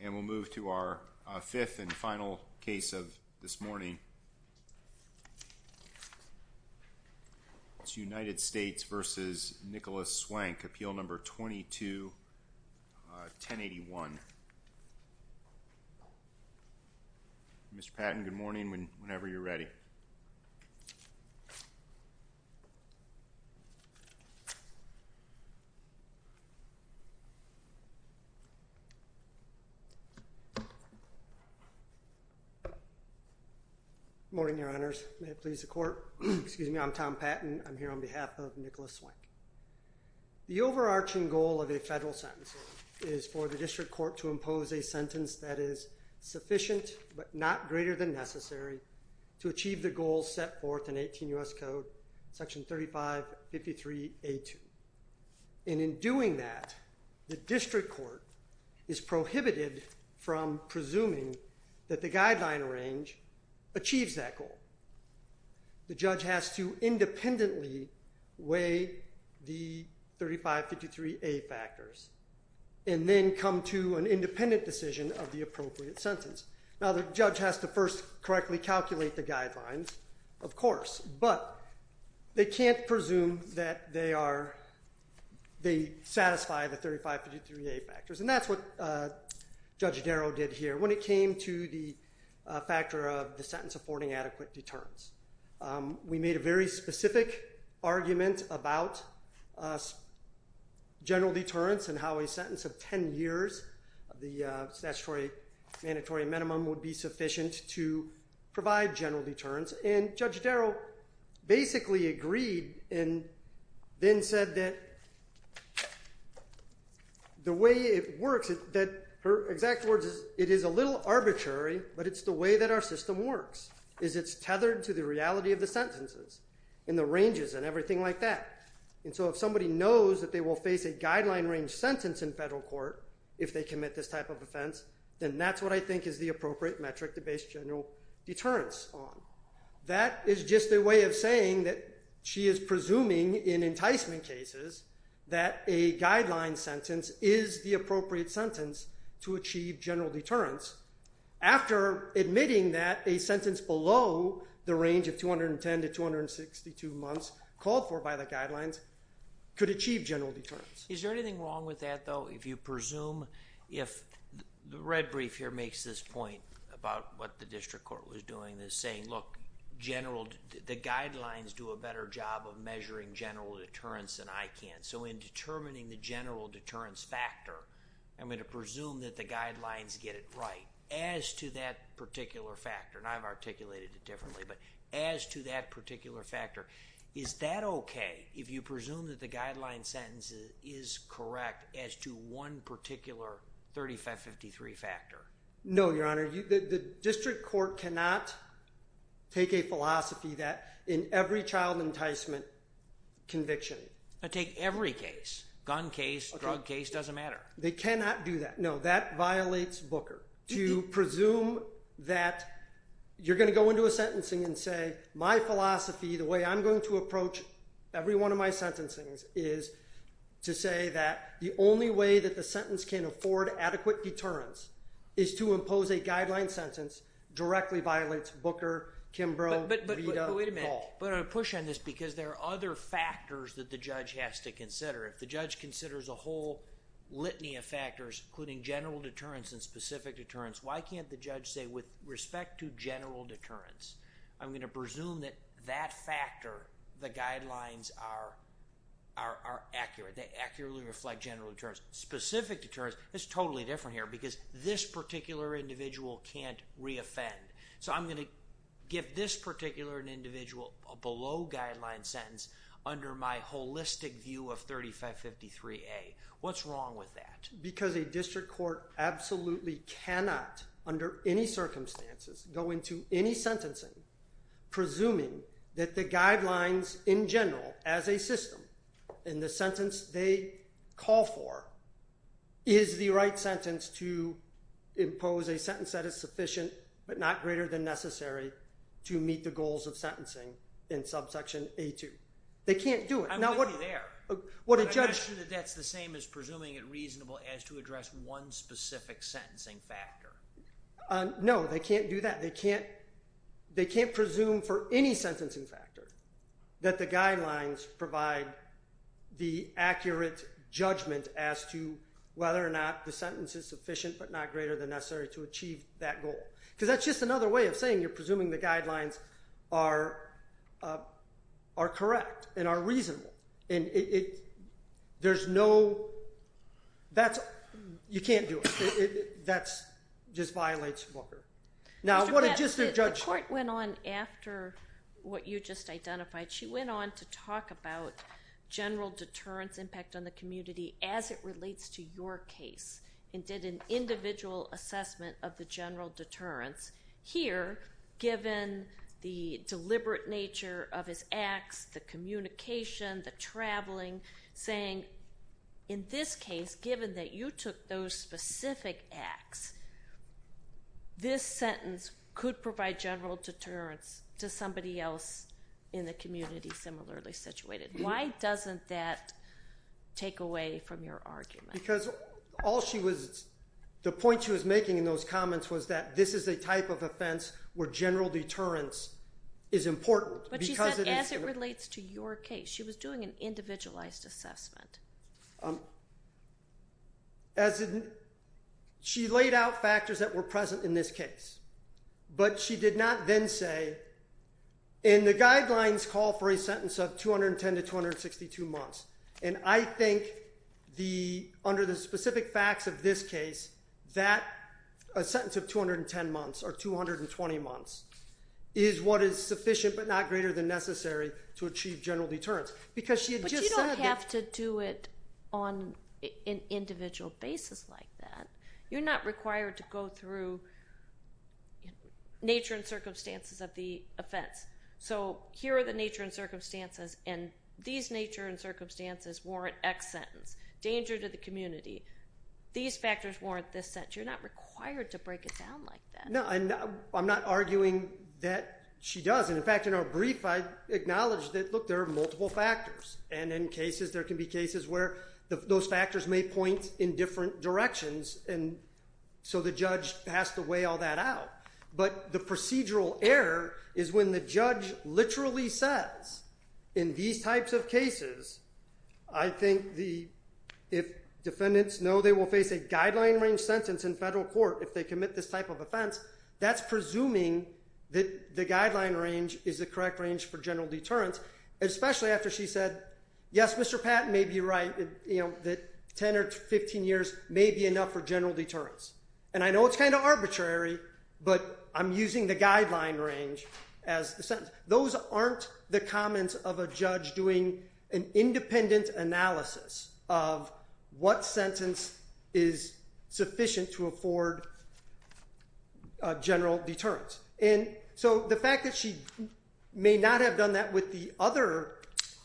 And we'll move to our fifth and final case of this morning. It's United States v. Nicholas Swank, Appeal No. 22-1081. Mr. Patton, good morning, whenever you're ready. Good morning, your honors. May it please the court. Excuse me, I'm Tom Patton. I'm here on behalf of Nicholas Swank. The overarching goal of a federal sentence is for the district court to impose a sentence that is sufficient but not greater than necessary to achieve the goals set forth in 18 U.S. Code, Section 3553A2. And in doing that, the district court is prohibited from presuming that the guideline range achieves that goal. The judge has to independently weigh the 3553A factors and then come to an independent decision of the appropriate sentence. Now, the judge has to first correctly calculate the guidelines, of course, but they can't presume that they are, they satisfy the 3553A factors. And that is what Judge Darrow did here when it came to the factor of the sentence affording adequate deterrence. We made a very specific argument about general deterrence and how a sentence of 10 years, the statutory mandatory minimum, would be sufficient to provide general deterrence. And Judge Darrow basically agreed and then said that the way it worked, the way that her exact words is, it is a little arbitrary, but it's the way that our system works, is it's tethered to the reality of the sentences and the ranges and everything like that. And so if somebody knows that they will face a guideline range sentence in federal court if they commit this type of offense, then that's what I think is the appropriate metric to base general deterrence on. That is just a way of saying that she is presuming in enticement cases that a guideline sentence is the appropriate sentence to achieve general deterrence after admitting that a sentence below the range of 210 to 262 months called for by the guidelines could achieve general deterrence. Is there anything wrong with that, though, if you presume if the red brief here makes this point about what the district court was doing, this saying, look, the guidelines do a better job of measuring general deterrence than I can. So in determining the general deterrence factor, I'm going to presume that the guidelines get it right. As to that particular factor, and I've articulated it differently, but as to that particular factor, is that okay if you presume that the guideline sentence is correct as to one particular 3553 factor? No, Your Honor. The district court cannot take a philosophy that in every child enticement conviction. But take every case, gun case, drug case, doesn't matter. They cannot do that. No, that violates Booker. To presume that you're going to go into a sentencing and say, my philosophy, the way I'm going to approach every one of my sentencings is to say that the only way that the sentence can afford adequate deterrence is to impose a guideline sentence directly violates Booker, Kimbrough, Rita, Gaule. But I'm going to push on this because there are other factors that the judge has to consider. If the judge considers a whole litany of factors, including general deterrence and specific deterrence, why can't the judge say, with respect to general deterrence, I'm going to presume that that factor, the guidelines are accurate. They accurately reflect general deterrence. Specific deterrence is totally different here because this particular individual can't re-offend. So I'm going to give this particular individual a below guideline sentence under my holistic view of 3553A. What's wrong with that? Because a district court absolutely cannot, under any circumstances, go into any sentencing presuming that the guidelines, in general, as a system, in the sentence they call for, is the right sentence to impose a sentence that is sufficient but not greater than necessary to meet the goals of sentencing in subsection A2. They can't do it. I'm going to be there, but I'm not sure that that's the same as presuming it reasonable as to address one specific sentencing factor. No, they can't do that. They can't presume for any sentencing factor that the guidelines provide the accurate judgment as to whether or not the sentence is sufficient but not greater than necessary to achieve that goal. Because that's just another way of saying you're presuming the guidelines are correct and are reasonable. And there's no, that's, you can't do it. That's, just violates Booker. Now what a district judge- Mr. Bassett, the court went on after what you just identified. She went on to talk about general deterrence impact on the community as it relates to your case and did an individual assessment of the general deterrence. Here, given the deliberate nature of his acts, the fact that you took those specific acts, this sentence could provide general deterrence to somebody else in the community similarly situated. Why doesn't that take away from your argument? Because all she was, the point she was making in those comments was that this is a type of offense where general deterrence is important because it is- But she said as it relates to your case. She was doing an individualized assessment. As in, she laid out factors that were present in this case. But she did not then say, and the guidelines call for a sentence of 210 to 262 months. And I think the, under the specific facts of this case, that a sentence of 210 months or 220 months is what is sufficient but not greater than necessary to achieve general deterrence. Because she had just said You don't have to do it on an individual basis like that. You're not required to go through nature and circumstances of the offense. So here are the nature and circumstances and these nature and circumstances warrant X sentence. Danger to the community. These factors warrant this sentence. You're not required to break it down like that. No, I'm not arguing that she does. And in fact, in our brief, I acknowledged that, look, there are multiple factors. And in cases, there can be cases where those factors may point in different directions. And so the judge has to weigh all that out. But the procedural error is when the judge literally says, in these types of cases, I think the, if defendants know they will face a guideline range sentence in federal court if they commit this type of offense, that's presuming that the guideline range is the correct range for general deterrence. Especially after she said, yes, Mr. Patton may be right, you know, that 10 or 15 years may be enough for general deterrence. And I know it's kind of arbitrary, but I'm using the guideline range as the sentence. Those aren't the comments of a judge doing an independent analysis of what sentence is sufficient to afford general deterrence. And so the fact that she may not have done that with the other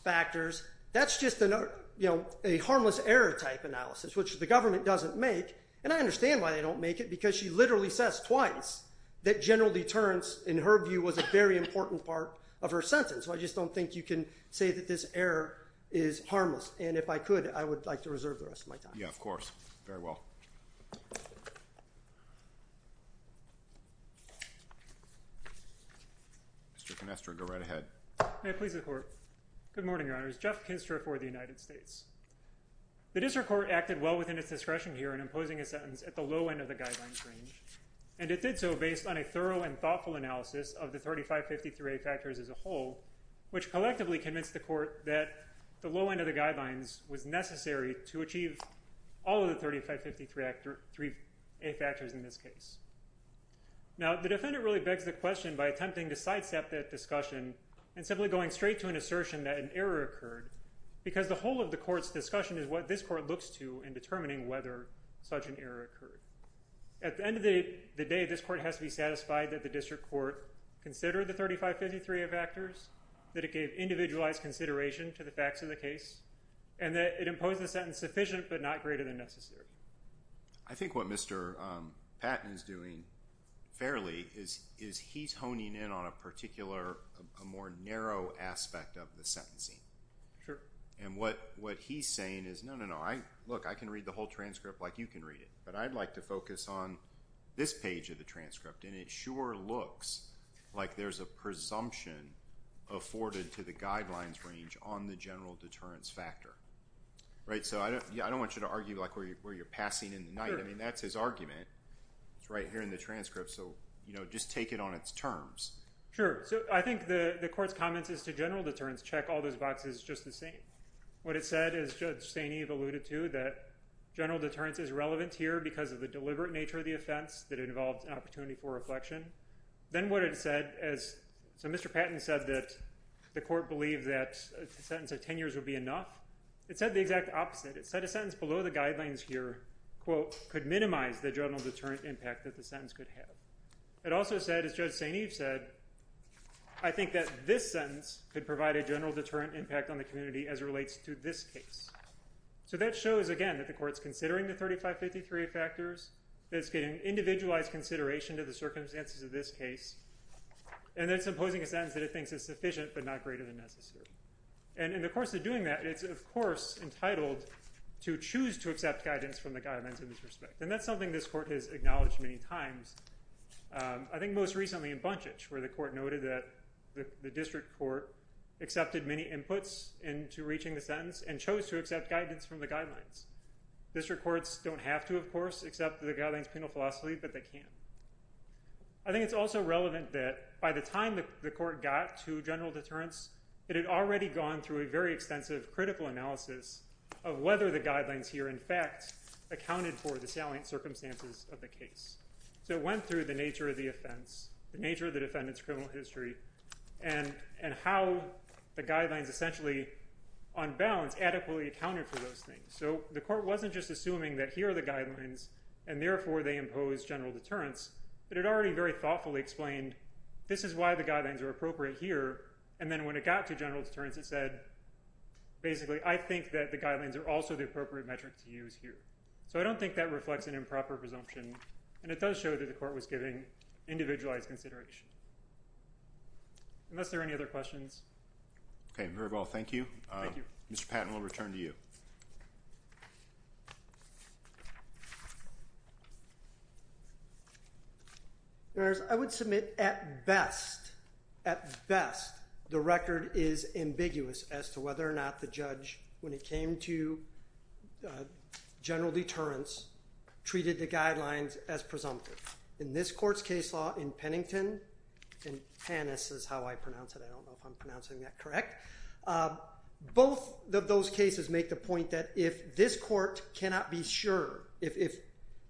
factors, that's just, you know, a harmless error type analysis, which the government doesn't make. And I understand why they don't make it, because she literally says twice that general deterrence, in her view, was a very important part of her sentence. So I just don't think you can say that this error is harmless. And if I could, I would like to reserve the rest of my time. Mr. Kinestra, go right ahead. May it please the court. Good morning, Your Honors. Jeff Kinestra for the United States. The district court acted well within its discretion here in imposing a sentence at the low end of the guidelines range. And it did so based on a thorough and thoughtful analysis of the 3553A factors as a whole, which collectively convinced the court that the low end of the guidelines was necessary to achieve all of the 3553A factors in this case. Now, the defendant really begs the question by attempting to sidestep that discussion and simply going straight to an assertion that an error occurred, because the whole of the court's discussion is what this court looks to in determining whether such an error occurred. At the end of the day, this court has to be satisfied that the district court considered the 3553A factors, that it gave individualized consideration to the facts of the case, and that it imposed the sentence sufficient but not greater than necessary. I think what Mr. Patton is doing fairly is he's honing in on a particular, a more narrow aspect of the sentencing. And what he's saying is no, no, no. Look, I can read the whole transcript like you can read it, but I'd like to focus on this page of the transcript. And it sure looks like there's a presumption afforded to the guidelines range on the general deterrence factor. Right? So, I don't want you to argue like where you're passing in the night. I mean, that's his argument. It's right here in the transcript. So, you know, just take it on its terms. Sure. So, I think the court's comments as to general deterrence check all those boxes just the same. What it said, as Judge Sainee alluded to, that general deterrence is relevant here because of the deliberate nature of the offense that it involved an opportunity for reflection. Then what it said, as Mr. Patton said that the court believed that a sentence of 10 years would be enough, it said the exact opposite. It said a sentence below the guidelines here, quote, could minimize the general deterrent impact that the sentence could have. It also said, as Judge Sainee said, I think that this sentence could provide a general deterrent impact on the community as it relates to this case. So, that shows, again, that the court's considering the 3553 factors, that it's getting individualized consideration to the circumstances of this case, and that it's imposing a sentence that it thinks is sufficient but not greater than necessary. And in the course of doing that, it's, of course, entitled to choose to accept guidance from the guidelines in this respect. And that's something this court has acknowledged many times. I think most recently in Bunchich, where the court noted that the district court accepted many inputs into reaching the sentence and chose to accept guidance from the guidelines. District courts don't have to, of course, accept the guidelines penal philosophy, but they can. I think it's also relevant that by the time the court got to general deterrence, it had already gone through a very extensive critical analysis of whether the guidelines here, in fact, accounted for the salient circumstances of the case. So, it went through the nature of the offense, the nature of the defendant's criminal history, and how the guidelines essentially, on balance, adequately accounted for those things. So, the court wasn't just assuming that here are the guidelines, and therefore they impose general deterrence, but it already very thoughtfully explained, this is why the guidelines are appropriate here. And then when it got to general deterrence, it said, basically, I think that the guidelines are also the appropriate metric to use here. So, I don't think that reflects an improper presumption, and it does show that the court was giving individualized consideration. Unless there are any other questions. Okay, very well. Thank you. Thank you. Mr. Patton, we'll return to you. I would submit, at best, at best, the record is ambiguous as to whether or not the judge when it came to general deterrence treated the guidelines as presumptive. In this court's case law, in Pennington, and Pannis is how I pronounce it, I don't know if I'm pronouncing that correct, both of those cases make the point that if this court cannot be sure, if it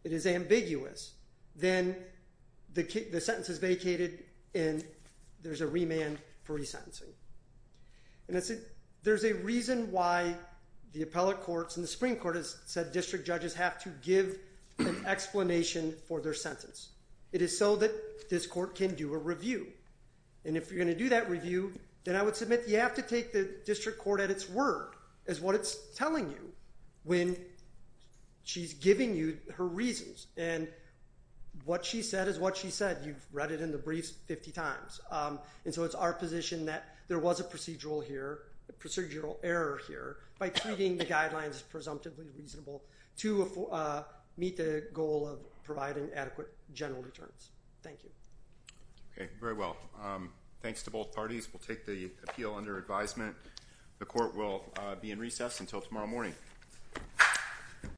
is ambiguous, then the sentence is vacated and there's a remand for resentencing. And there's a reason why the appellate courts and the Supreme Court has said district judges have to give an explanation for their sentence. It is so that this court can do a review. And if you're going to do that review, then I would submit you have to take the district court at its word as what it's telling you when she's giving you her reasons. And what she said is what she said. You've read it in the briefs 50 times. And so it's our position that there was a procedural error here by treating the guidelines as presumptively reasonable to meet the goal of providing adequate general deterrence. Thank you. Okay. Very well. Thanks to both parties. We'll take the appeal under advisement. The court will be in recess until tomorrow morning.